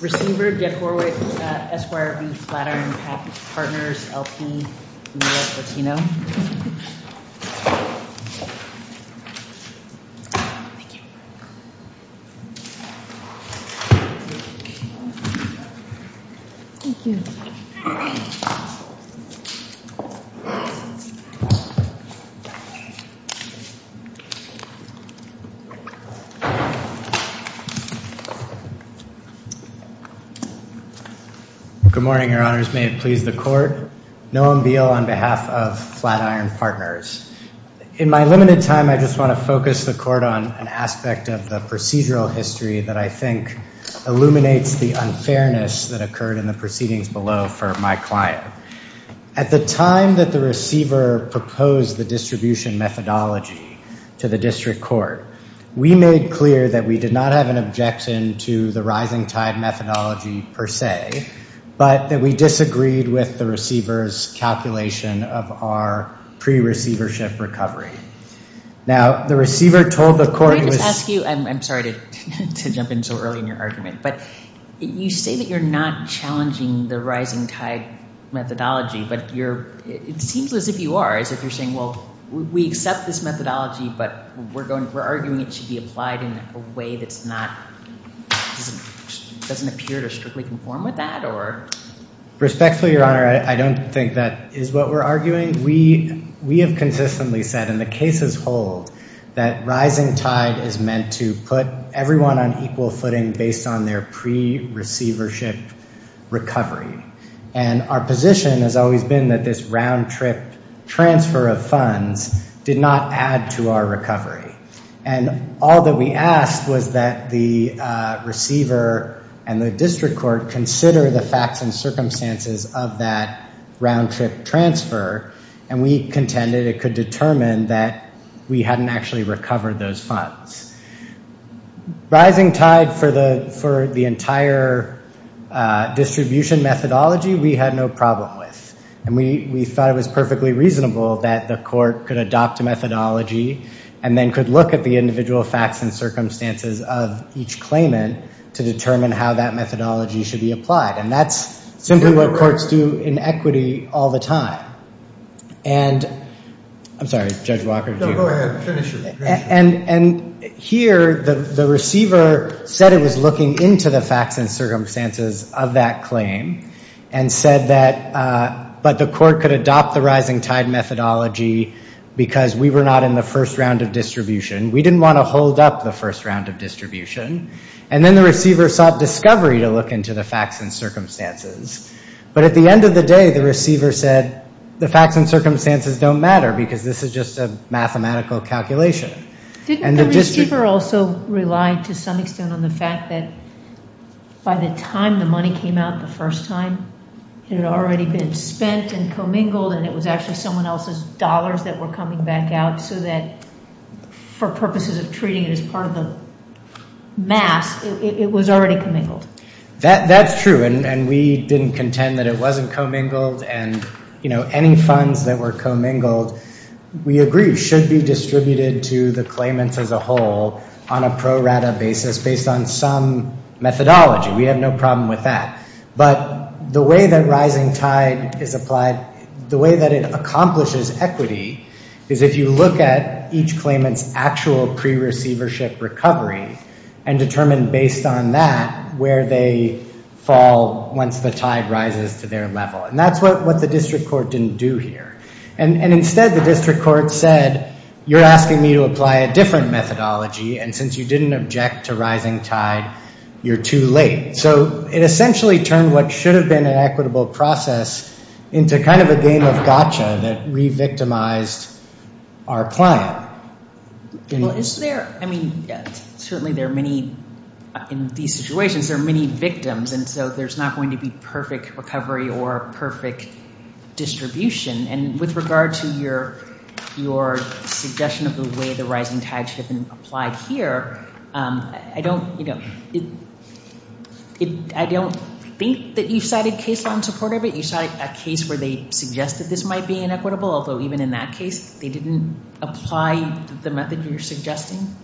Receiver, Jeff Horwick, SYRB, Flatiron Partners, LP, U.S. Latino. Thank you. Good morning, your honors. May it please the court. Noam Beale on behalf of Flatiron Partners. In my limited time, I just want to focus the court on an aspect of the procedural history that I think illuminates the unfairness that occurred in the proceedings below for my client. At the time that the receiver proposed the distribution methodology to the district court, we made clear that we did not have an objection to the rising tide methodology per se, but that we disagreed with the receiver's calculation of our pre-receivership recovery. Now, the receiver told the court... May I just ask you, I'm sorry to jump in so early in your argument, but you say that you're not challenging the rising tide methodology, but it seems as if you are, as if you're saying, we accept this methodology, but we're arguing it should be applied in a way that doesn't appear to strictly conform with that or... Respectfully, your honor, I don't think that is what we're arguing. We have consistently said, and the cases hold, that rising tide is meant to put everyone on equal footing based on their pre-receivership recovery. And our position has always been that this roundtrip transfer of funds did not add to our recovery. And all that we asked was that the receiver and the district court consider the facts and circumstances of that roundtrip transfer, and we contended it could determine that we hadn't actually recovered those And we thought it was perfectly reasonable that the court could adopt a methodology and then could look at the individual facts and circumstances of each claimant to determine how that methodology should be applied. And that's simply what courts do in equity all the time. And I'm sorry, Judge Walker. No, go ahead. Finish it. Finish it. And here, the receiver said it was looking into the but the court could adopt the rising tide methodology because we were not in the first round of distribution. We didn't want to hold up the first round of distribution. And then the receiver sought discovery to look into the facts and circumstances. But at the end of the day, the receiver said the facts and circumstances don't matter because this is just a mathematical calculation. Didn't the receiver also rely to some extent on the fact that by the time the money came out the first time, it had already been spent and commingled and it was actually someone else's dollars that were coming back out so that for purposes of treating it as part of the mass, it was already commingled? That's true. And we didn't contend that it wasn't commingled. And, you know, any funds that were commingled, we agree, should be distributed to the claimants as a whole on a pro rata basis based on some methodology. We have no problem with that. But the way that rising tide is applied, the way that it accomplishes equity is if you look at each claimant's actual pre-receivership recovery and determine based on that where they fall once the tide rises to their level. And that's what the district court didn't do here. And instead, the district court said, you're asking me to apply a different methodology and since you didn't object to rising tide, you're too late. So it essentially turned what should have been an equitable process into kind of a game of gotcha that re-victimized our client. Well, is there, I mean, certainly there are many, in these situations, there are many victims and so there's not going to be perfect recovery or perfect distribution. And with regard to your suggestion of the way the rising tide should have been applied here, I don't, you know, I don't think that you cited case law in support of it. You cited a case where they suggested this might be inequitable, although even in that case, they didn't apply the method you're suggesting.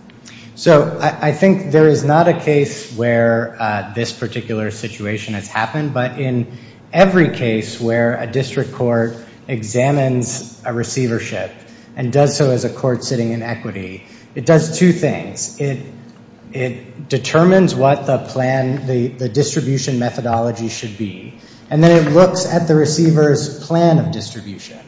So I think there is not a case where this particular situation has happened, but in every case where a district court examines a receivership and does so as a court sitting in equity, it does two things. It determines what the plan, the distribution methodology should be, and then it looks at the receiver's plan of distribution.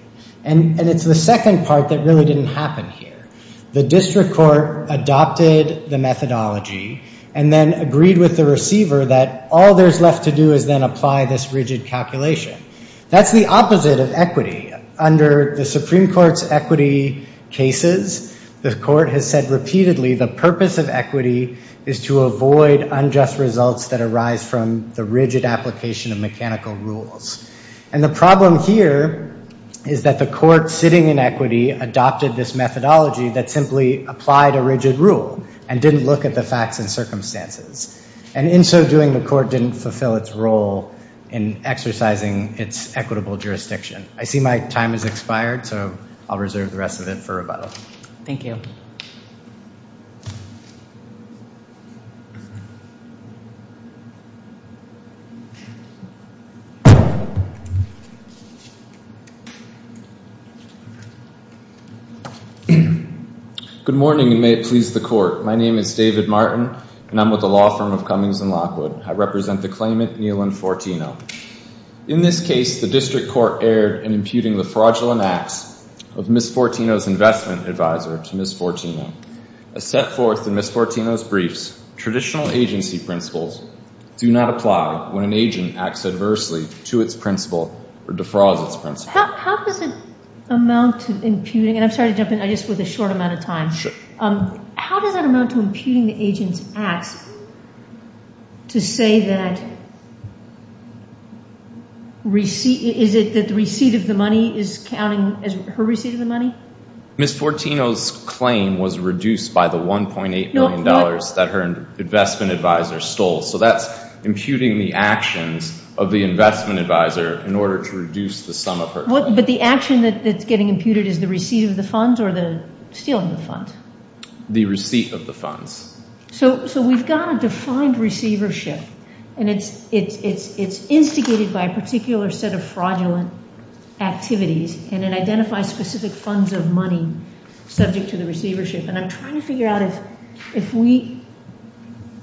And it's the second part that really didn't happen here. The district court adopted the methodology and then agreed with the receiver that all there's left to do is then apply this rigid calculation. That's the opposite of equity. Under the Supreme Court's equity cases, the court has said repeatedly the purpose of equity is to avoid unjust results that arise from the rigid application of mechanical rules. And the problem here is that the court sitting in equity adopted this methodology that simply applied a rigid rule and didn't look at the facts and circumstances. And in so doing, the court didn't fulfill its role in exercising its equitable jurisdiction. I see my time has expired, so I'll reserve the rest of it for rebuttal. Thank you. Good morning, and may it please the court. My name is David Martin, and I'm with the law firm of Cummings and Lockwood. I represent the claimant, Nealon Fortino. In this case, the district court erred in imputing the fraudulent acts of Ms. Fortino's investment advisor to Ms. Fortino. As set forth in Ms. Fortino's briefs, traditional agency principles do not apply when an agent acts adversely to its principle or defrauds its principle. How does it amount to imputing, and I'm sorry to I just with a short amount of time. Sure. How does that amount to imputing the agent's acts to say that receipt, is it that the receipt of the money is counting as her receipt of the money? Ms. Fortino's claim was reduced by the 1.8 million dollars that her investment advisor stole, so that's imputing the actions of the investment advisor in order to reduce the sum of her. But the action that's getting imputed is the receipt of the funds or the stealing of funds? The receipt of the funds. So we've got a defined receivership, and it's instigated by a particular set of fraudulent activities, and it identifies specific funds of money subject to the receivership, and I'm trying to figure out if we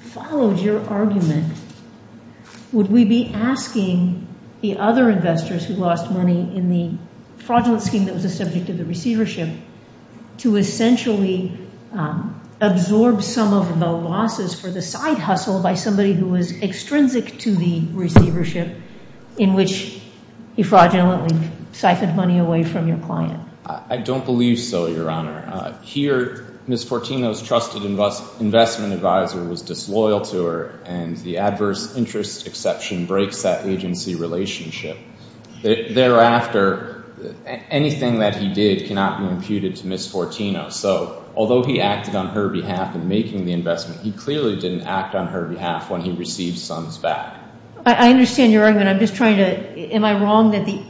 followed your argument, would we be asking the other investors who lost money in the fraudulent scheme that was a subject of the receivership, to essentially absorb some of the losses for the side hustle by somebody who was extrinsic to the receivership, in which he fraudulently siphoned money away from your client? I don't believe so, your honor. Here, Ms. Fortino's trusted investment advisor was disloyal to her, and the adverse interest exception breaks that agency relationship. Thereafter, anything that he did cannot be imputed to Ms. Fortino, so although he acted on her behalf in making the investment, he clearly didn't act on her behalf when he received sums back. I understand your argument, I'm just trying to, am I wrong that the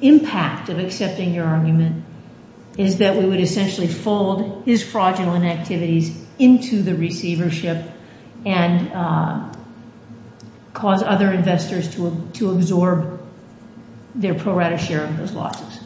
impact of accepting your argument is that we would essentially fold his receivership and cause other investors to absorb their pro rata share of those losses?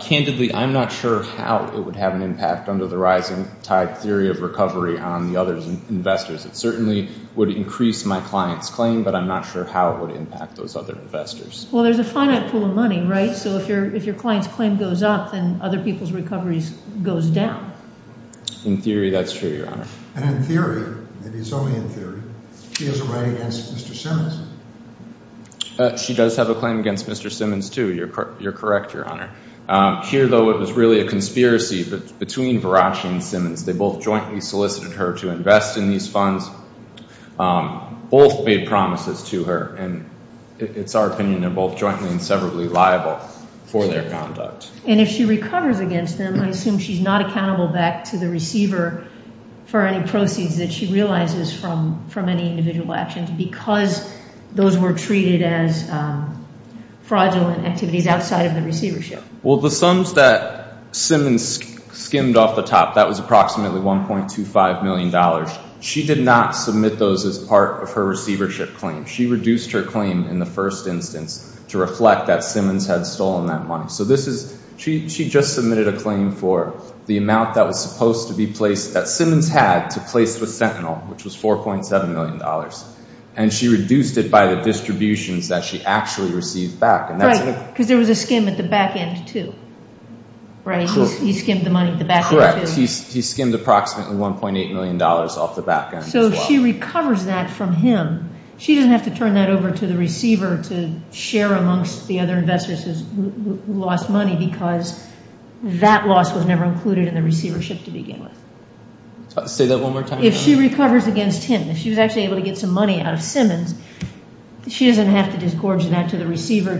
Candidly, I'm not sure how it would have an impact under the rising tide theory of recovery on the other investors. It certainly would increase my client's claim, but I'm not sure how it would impact those other investors. Well, there's a finite pool of money, right? So if your client's claim goes up, then other people's recovery goes down. In theory, that's true, and in theory, maybe it's only in theory, she has a right against Mr. Simmons. She does have a claim against Mr. Simmons, too. You're correct, your honor. Here, though, it was really a conspiracy between Varachi and Simmons. They both jointly solicited her to invest in these funds. Both made promises to her, and it's our opinion they're both jointly and severably liable for their conduct. And if she recovers against them, I assume she's not accountable back to the receiver for any proceeds that she realizes from any individual actions because those were treated as fraudulent activities outside of the receivership. Well, the sums that Simmons skimmed off the top, that was approximately $1.25 million. She did not submit those as part of her receivership claim. She reduced her claim in the first instance to reflect that Simmons had stolen that money. So she just submitted a claim for the amount that was supposed to be placed, that Simmons had to place with Sentinel, which was $4.7 million. And she reduced it by the distributions that she actually received back. Right, because there was a skim at the back end, too. He skimmed the money at the back end, too. Correct. He skimmed approximately $1.8 million off the back end, as well. So if she recovers that from him, she doesn't have to turn that over to the receiver to amongst the other investors who lost money because that loss was never included in the receivership to begin with. Say that one more time. If she recovers against him, if she was actually able to get some money out of Simmons, she doesn't have to disgorge that to the receiver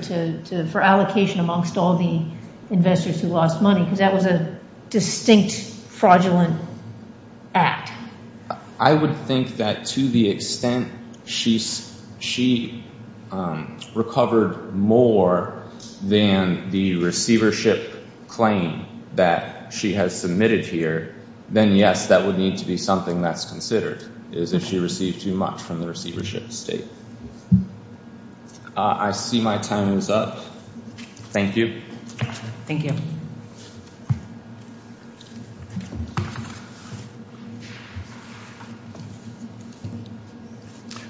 for allocation amongst all the investors who lost money because that was a distinct fraudulent act. I would think that to the extent she recovered more than the receivership claim that she has submitted here, then yes, that would need to be something that's considered, is if she received too much from the receivership estate. I see my time is up. Thank you. Thank you.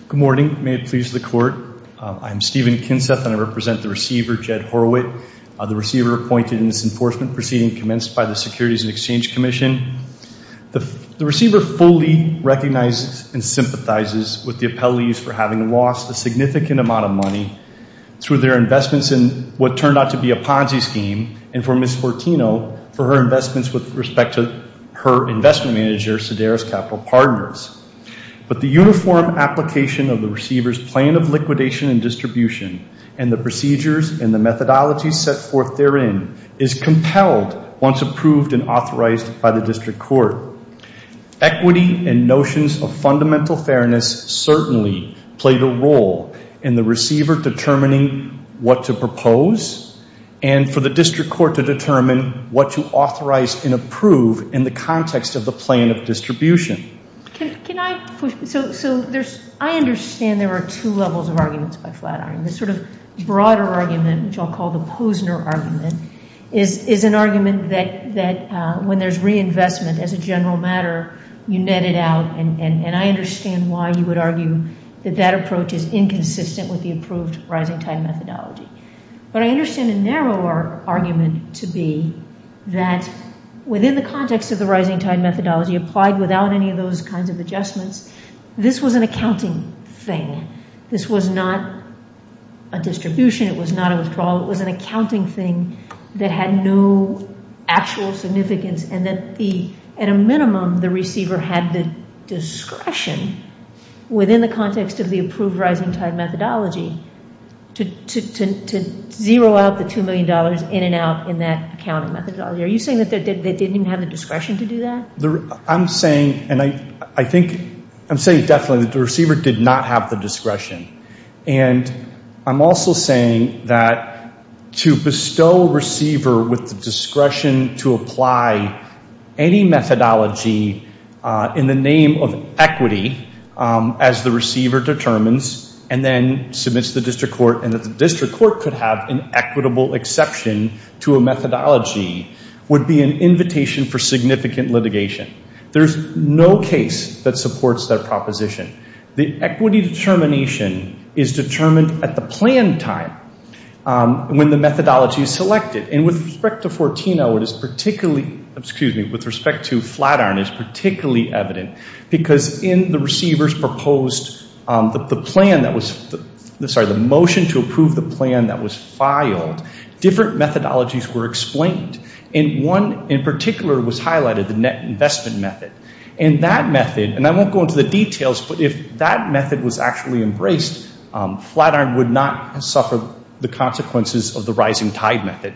Good morning. May it please the court. I'm Stephen Kinseth and I represent the receiver, Jed Horwitt. The receiver appointed in this enforcement proceeding commenced by the Securities and Exchange Commission. The receiver fully recognizes and sympathizes with the appellees for having lost a significant amount of money through their investments in what turned out to be a Ponzi scheme and for Ms. Fortino for her investments with respect to her investment manager, Sedaris Capital Partners. But the uniform application of the receiver's plan of liquidation and distribution and the procedures and the methodology set forth therein is compelled once approved and authorized by the district court. Equity and notions of fundamental fairness certainly play the role in the receiver determining what to propose and for the district court to determine what to authorize and approve in the context of the plan of distribution. I understand there are two levels of arguments by Flatiron. The sort of broader argument, which I'll call the Posner argument, is an argument that when there's reinvestment as a that approach is inconsistent with the approved rising tide methodology. But I understand a narrower argument to be that within the context of the rising tide methodology applied without any of those kinds of adjustments, this was an accounting thing. This was not a distribution. It was not a withdrawal. It was an accounting thing that had no actual significance and that at a minimum the receiver had the discretion within the context of the approved rising tide methodology to zero out the two million dollars in and out in that accounting methodology. Are you saying that they didn't even have the discretion to do that? I'm saying and I think I'm saying definitely that the receiver did not have the discretion and I'm also saying that to bestow a receiver with the discretion to apply any methodology in the name of equity as the receiver determines and then submits to the district court and that the district court could have an equitable exception to a methodology would be an invitation for significant litigation. There's no case that supports that proposition. The equity determination is determined at the planned time when the methodology is selected. And with respect to 14-0 it is particularly, excuse me, with respect to Flatiron it is particularly evident because in the receiver's proposed the plan that was, sorry, the motion to approve the plan that was filed, different methodologies were explained. And one in particular was highlighted, the net investment method. And that method, and I won't go into the details, but if that method was actually embraced, Flatiron would not suffer the consequences of the rising tide method.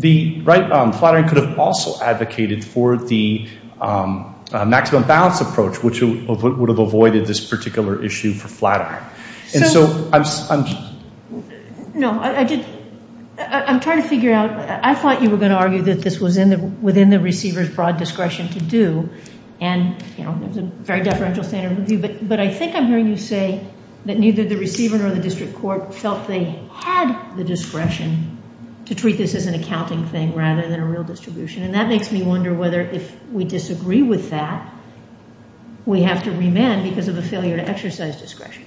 Flatiron could have also advocated for the maximum balance approach which would have avoided this particular issue for Flatiron. And so I'm... No, I'm trying to figure out, I thought you were going to argue that this was within the receiver's broad discretion to do and, you know, there's a very deferential standard review. But I think I'm hearing you say that neither the receiver nor the district court felt they had the discretion to treat this as an accounting thing rather than a real distribution. And that makes me wonder whether if we disagree with that we have to remand because of a failure to exercise discretion.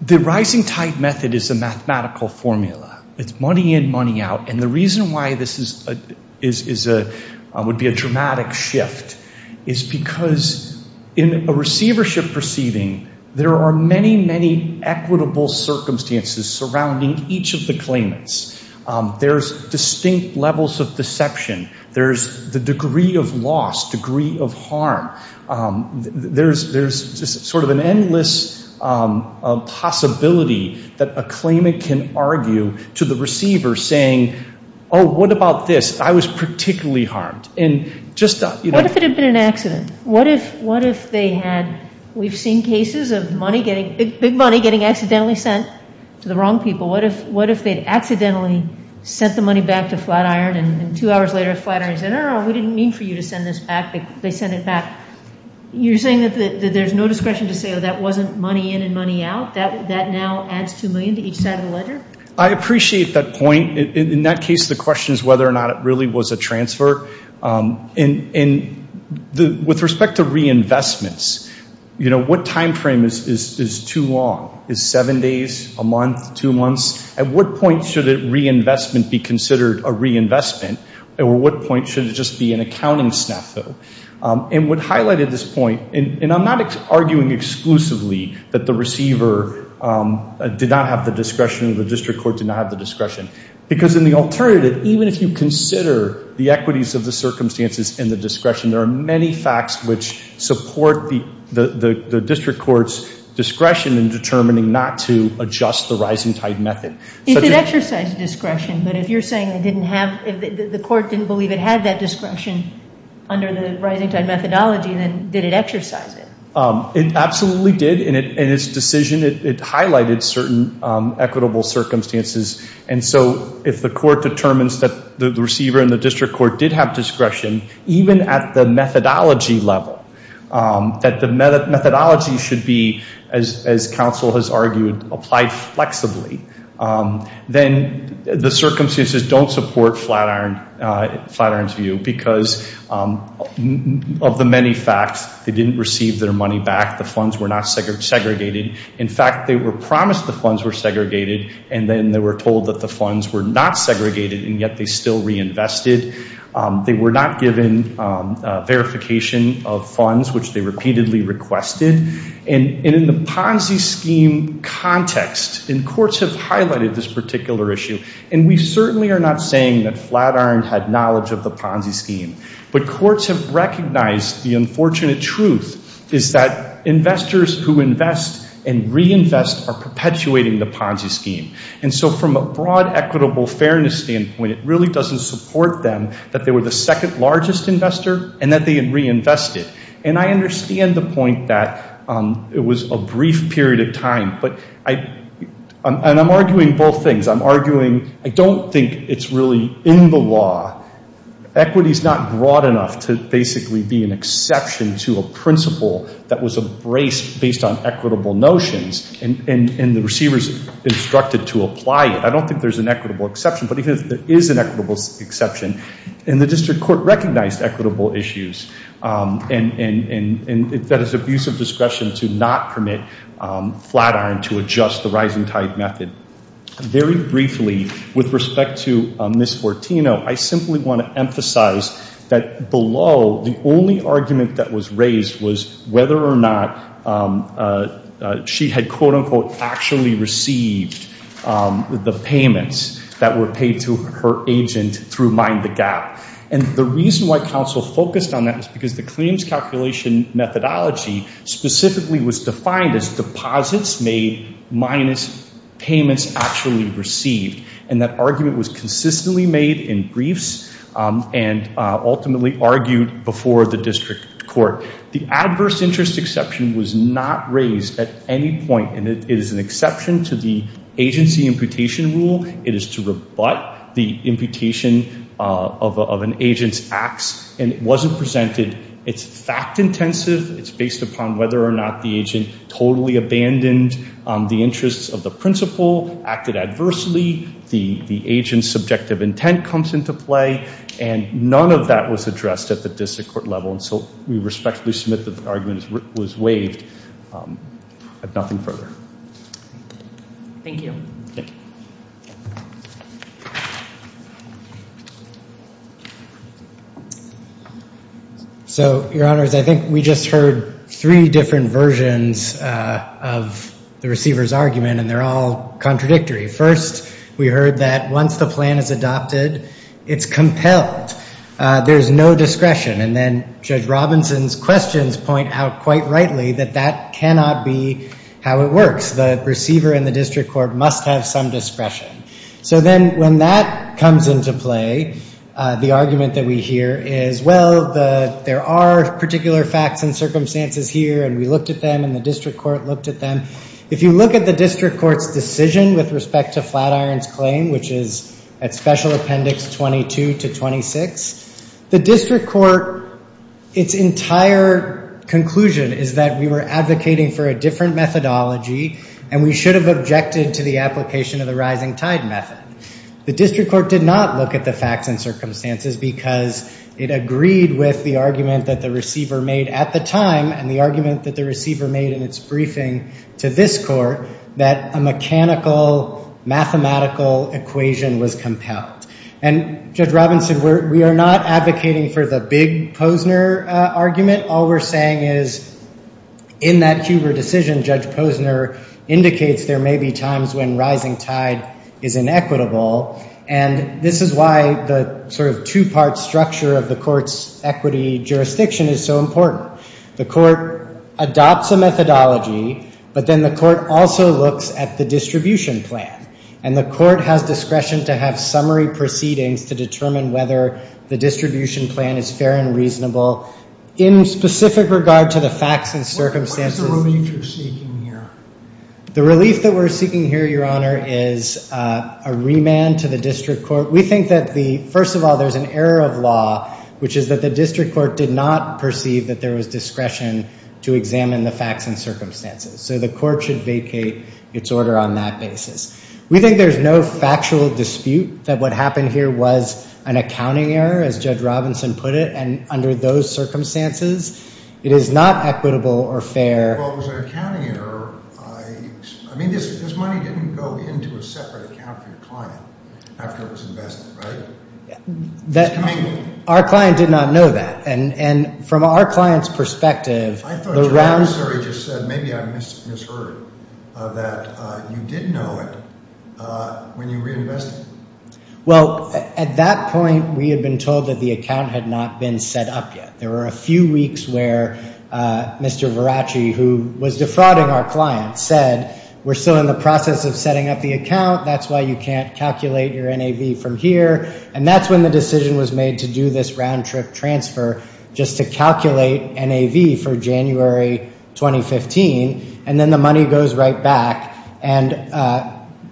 The rising tide method is a mathematical formula. It's money in, money out. The reason why this would be a dramatic shift is because in a receivership proceeding, there are many, many equitable circumstances surrounding each of the claimants. There's distinct levels of deception. There's the degree of loss, degree of harm. There's just sort of an endless possibility that a claimant can argue to the receiver saying, oh, what about this? I was particularly harmed. And just... What if it had been an accident? What if they had, we've seen cases of money getting, big money getting accidentally sent to the wrong people. What if they'd accidentally sent the money back to Flatiron and two hours later Flatiron said, no, no, no, we didn't mean for you to send this back. They sent it back. You're saying that there's no discretion to say, oh, that wasn't money in and money out. That now adds $2 million to each side of the ledger? I appreciate that point. In that case, the question is whether or not it really was a transfer. And with respect to reinvestments, what timeframe is too long? Is seven days, a month, two months? At what point should reinvestment be considered a reinvestment? At what point should it just be an accounting snafu? And what highlighted this point, and I'm not arguing exclusively that the receiver did not have the discretion, the district court did not have the discretion. Because in the alternative, even if you consider the equities of the circumstances and the discretion, there are many facts which support the district court's discretion in determining not to adjust the rising tide method. It did exercise discretion, but if you're saying it didn't have, the court didn't believe it had that discretion under the rising tide methodology, then did it exercise it? It absolutely did. In its decision, it highlighted certain equitable circumstances. And so if the court determines that the receiver and the district court did have discretion, even at the methodology level, that the methodology should be, as counsel has argued, applied flexibly, then the circumstances don't support Flatiron's view because of the many facts. They didn't receive their money back. The funds were not segregated. In fact, they were promised the funds were segregated, and then they were told that the funds were not segregated, and yet they still reinvested. They were not given verification of funds, which they repeatedly requested. And in the Ponzi scheme context, and courts have highlighted this particular issue, and we certainly are not saying that Flatiron had knowledge of the Ponzi scheme, but courts have recognized the unfortunate truth is that investors who invest and reinvest are perpetuating the Ponzi scheme. And so from a broad equitable fairness standpoint, it really doesn't support them that they were the second largest investor and that they had reinvested. And I understand the point that it was a brief period of time, but I'm arguing both things. I'm arguing I don't think it's really in the law. Equity is not broad enough to basically be an exception to a principle that was embraced based on equitable notions, and the receivers instructed to apply it. I don't think there's an equitable exception, but even if there is an equitable exception, and the district court recognized equitable issues, and that is abuse of discretion to not permit Flatiron to adjust the rising tide method. Very briefly, with respect to Ms. Fortino, I simply want to emphasize that below, the only argument that was raised was whether or not she had, quote unquote, actually received the payments that were paid to her agent through Mind the Gap. And the reason why counsel focused on that was because the claims calculation methodology specifically was defined as deposits made minus payments actually received. And that argument was consistently made in briefs and ultimately argued before the district court. The adverse interest exception was not raised at any point, and it is an exception to the agency imputation rule. It is to rebut the imputation of an agent's acts, and it wasn't presented. It's fact intensive. It's based upon whether or not the agent totally abandoned the interests of the principal, acted adversely, the agent's subjective intent comes into play, and none of that was addressed at the district court level. And so we respectfully submit that the argument was waived at nothing further. Thank you. So, your honors, I think we just heard three different versions of the receiver's argument, and they're all contradictory. First, we heard that once the plan is adopted, it's compelled. There's no discretion. And then Judge Robinson's questions point out quite rightly that that cannot be how it works. The receiver and the district court must have some discretion. So then when that comes into play, the argument that we hear is, well, there are particular facts and circumstances here, and we looked at them, and the district court looked at them. If you look at the district court's decision with respect to Flatiron's claim, which is at Special Appendix 22 to 26, the district court, its entire conclusion is that we were advocating for a different methodology, and we should have objected to the application of the rising tide method. The district court did not look at the facts and circumstances because it agreed with the argument that the receiver made at the time, and the argument that the receiver made in its Judge Robinson, we are not advocating for the big Posner argument. All we're saying is, in that Huber decision, Judge Posner indicates there may be times when rising tide is inequitable, and this is why the sort of two-part structure of the court's equity jurisdiction is so important. The court adopts a methodology, but then the court also looks at the distribution plan, and the court has discretion to have summary proceedings to determine whether the distribution plan is fair and reasonable. In specific regard to the facts and circumstances... What is the relief you're seeking here? The relief that we're seeking here, Your Honor, is a remand to the district court. We think that the, first of all, there's an error of law, which is that the district court did not perceive that there was discretion to examine the facts and circumstances, so the court should vacate its order on that basis. We think there's no factual dispute that what happened here was an accounting error, as Judge Robinson put it, and under those circumstances, it is not equitable or fair. Well, it was an accounting error. I mean, this money didn't go into a separate account for your client after it was invested, right? Our client did not know that, and from our client's perspective... Maybe I misheard that you did know it when you reinvested it. Well, at that point, we had been told that the account had not been set up yet. There were a few weeks where Mr. Veracci, who was defrauding our client, said, we're still in the process of setting up the account, that's why you can't calculate your NAV from here, and that's when the decision was made to do this round-trip transfer, just to calculate NAV for January 2015, and then the money goes right back, and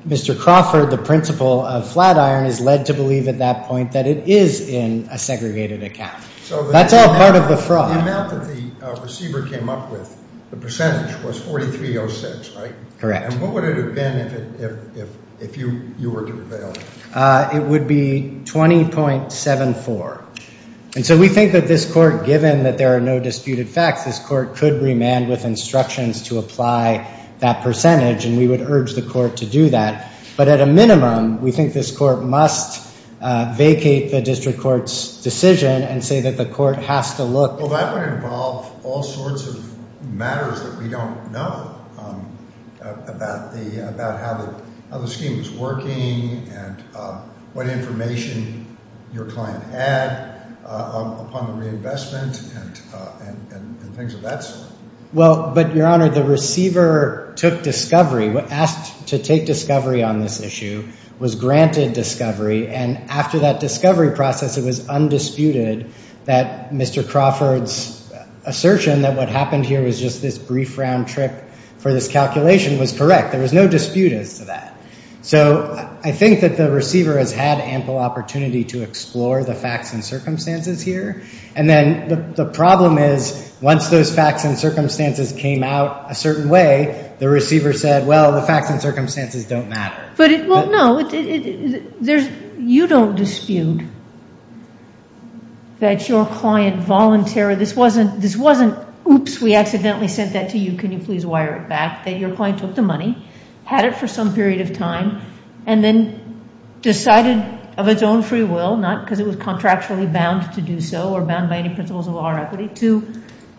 Mr. Crawford, the principal of Flatiron, is led to believe at that point that it is in a segregated account. That's all part of the fraud. So the amount that the receiver came up with, the percentage, was 4306, right? Correct. It would be 20.74. And so we think that this court, given that there are no disputed facts, this court could remand with instructions to apply that percentage, and we would urge the court to do that. But at a minimum, we think this court must vacate the district court's decision and say that the court has to look... Well, that would involve all sorts of matters that we don't know about how the scheme is implemented, what information your client had upon the reinvestment, and things of that sort. Well, but Your Honor, the receiver took discovery, asked to take discovery on this issue, was granted discovery, and after that discovery process, it was undisputed that Mr. Crawford's assertion that what happened here was just this brief round-trip for this calculation was correct. There was no dispute as to that. So I think that the receiver has had ample opportunity to explore the facts and circumstances here. And then the problem is, once those facts and circumstances came out a certain way, the receiver said, well, the facts and circumstances don't matter. But, well, no. You don't dispute that your client voluntarily... This wasn't, oops, we accidentally sent that to you, can you please wire it back? That your client took the money, had it for some period of time, and then decided of its own free will, not because it was contractually bound to do so or bound by any principles of law or equity, to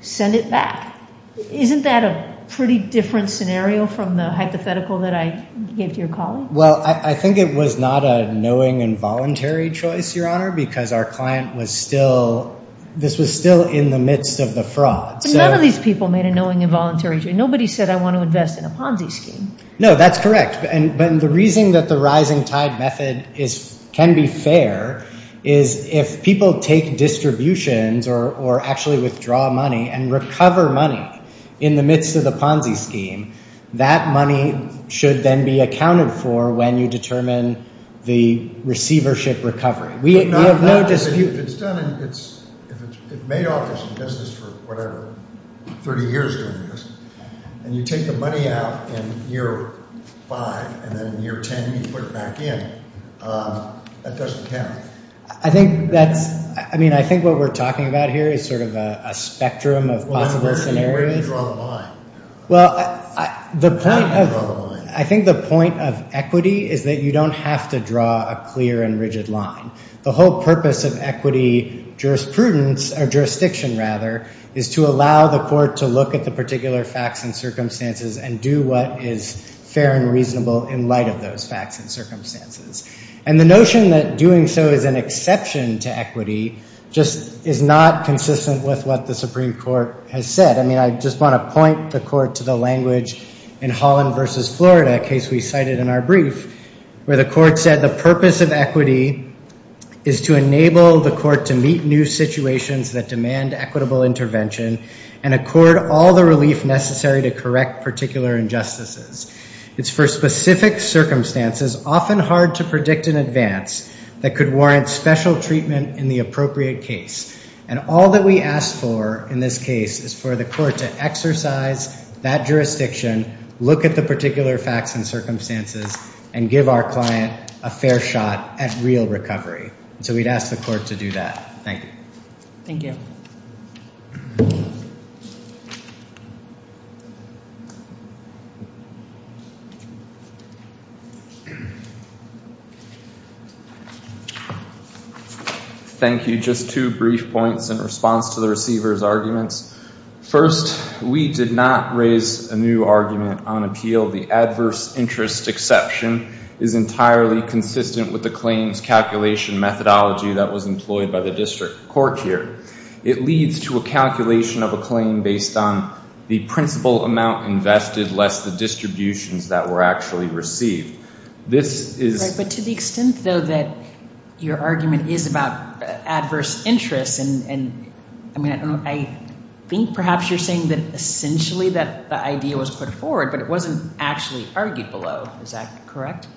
send it back. Isn't that a pretty different scenario from the hypothetical that I gave to your colleague? Well, I think it was not a knowing and voluntary choice, Your Honor, because our client was still, this was still in the midst of the fraud. None of these people made a knowing and voluntary choice. Nobody said, I want to invest in a Ponzi scheme. No, that's correct. And the reason that the rising tide method is, can be fair, is if people take distributions or actually withdraw money and recover money in the midst of the Ponzi scheme, that money should then be accounted for when you determine the receivership recovery. We have no dispute. If it's done and it's, if it's made office and does this for whatever, 30 years doing this, and you take the money out in year five, and then in year 10, you put it back in, that doesn't count. I think that's, I mean, I think what we're talking about here is sort of a spectrum of possible scenarios. Well, I think the point of equity is that you don't have to draw a clear and rigid line. The whole purpose of equity jurisprudence, or jurisdiction rather, is to allow the court to look at the particular facts and circumstances and do what is fair and reasonable in light of those facts and circumstances. And the notion that doing so is an exception to equity just is not consistent with what the Supreme Court has said. I mean, I just want to point the court to the language in Holland versus Florida, case we cited in our brief, where the court said the purpose of equity is to enable the court to meet new situations that demand equitable intervention and accord all the relief necessary to correct particular injustices. It's for specific circumstances, often hard to predict in advance, that could warrant special treatment in the appropriate case. And all that we ask for in this case is for the court to exercise that jurisdiction, look at the particular facts and circumstances, and give our client a fair shot at real recovery. So we'd ask the court to do that. Thank you. Thank you. Thank you. Just two brief points in response to the receiver's arguments. First, we did not raise a new argument on appeal. The adverse interest exception is entirely consistent with the claims calculation methodology that was employed by the district court here. It leads to a calculation of a claim based on the principal amount invested less the distributions that were actually received. This is... Right, but to the extent, though, that your argument is about adverse interest and... I think perhaps you're saying that essentially that the idea was put forward, but it wasn't actually argued below. Is that correct?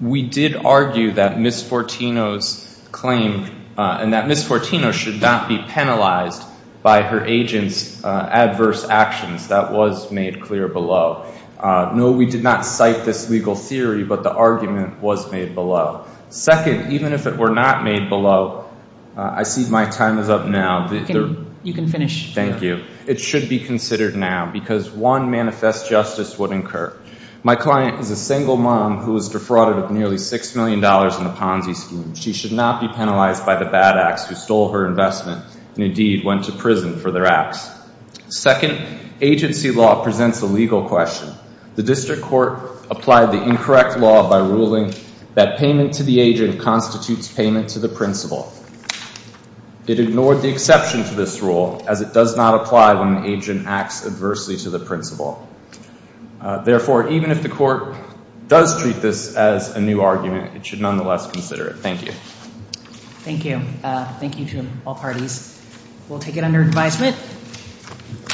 We did argue that Ms. Fortino's claim and that Ms. Fortino should not be penalized by her agent's adverse actions. That was made clear below. No, we did not cite this legal theory, but the argument was made below. Second, even if it were not made below, I see my time is up now. You can finish. Thank you. It should be considered now because one manifest justice would incur. My client is a single mom who was defrauded of nearly $6 million in the Ponzi scheme. She should not be penalized by the bad acts who stole her investment and indeed went to prison for their acts. Second, agency law presents a legal question. The district court applied the incorrect law by ruling that payment to the agent constitutes payment to the principal. It ignored the exception to this rule as it does not apply when the agent acts adversely to the principal. Therefore, even if the court does treat this as a new argument, it should nonetheless consider it. Thank you. Thank you. Thank you to all parties. We'll take it under advisement.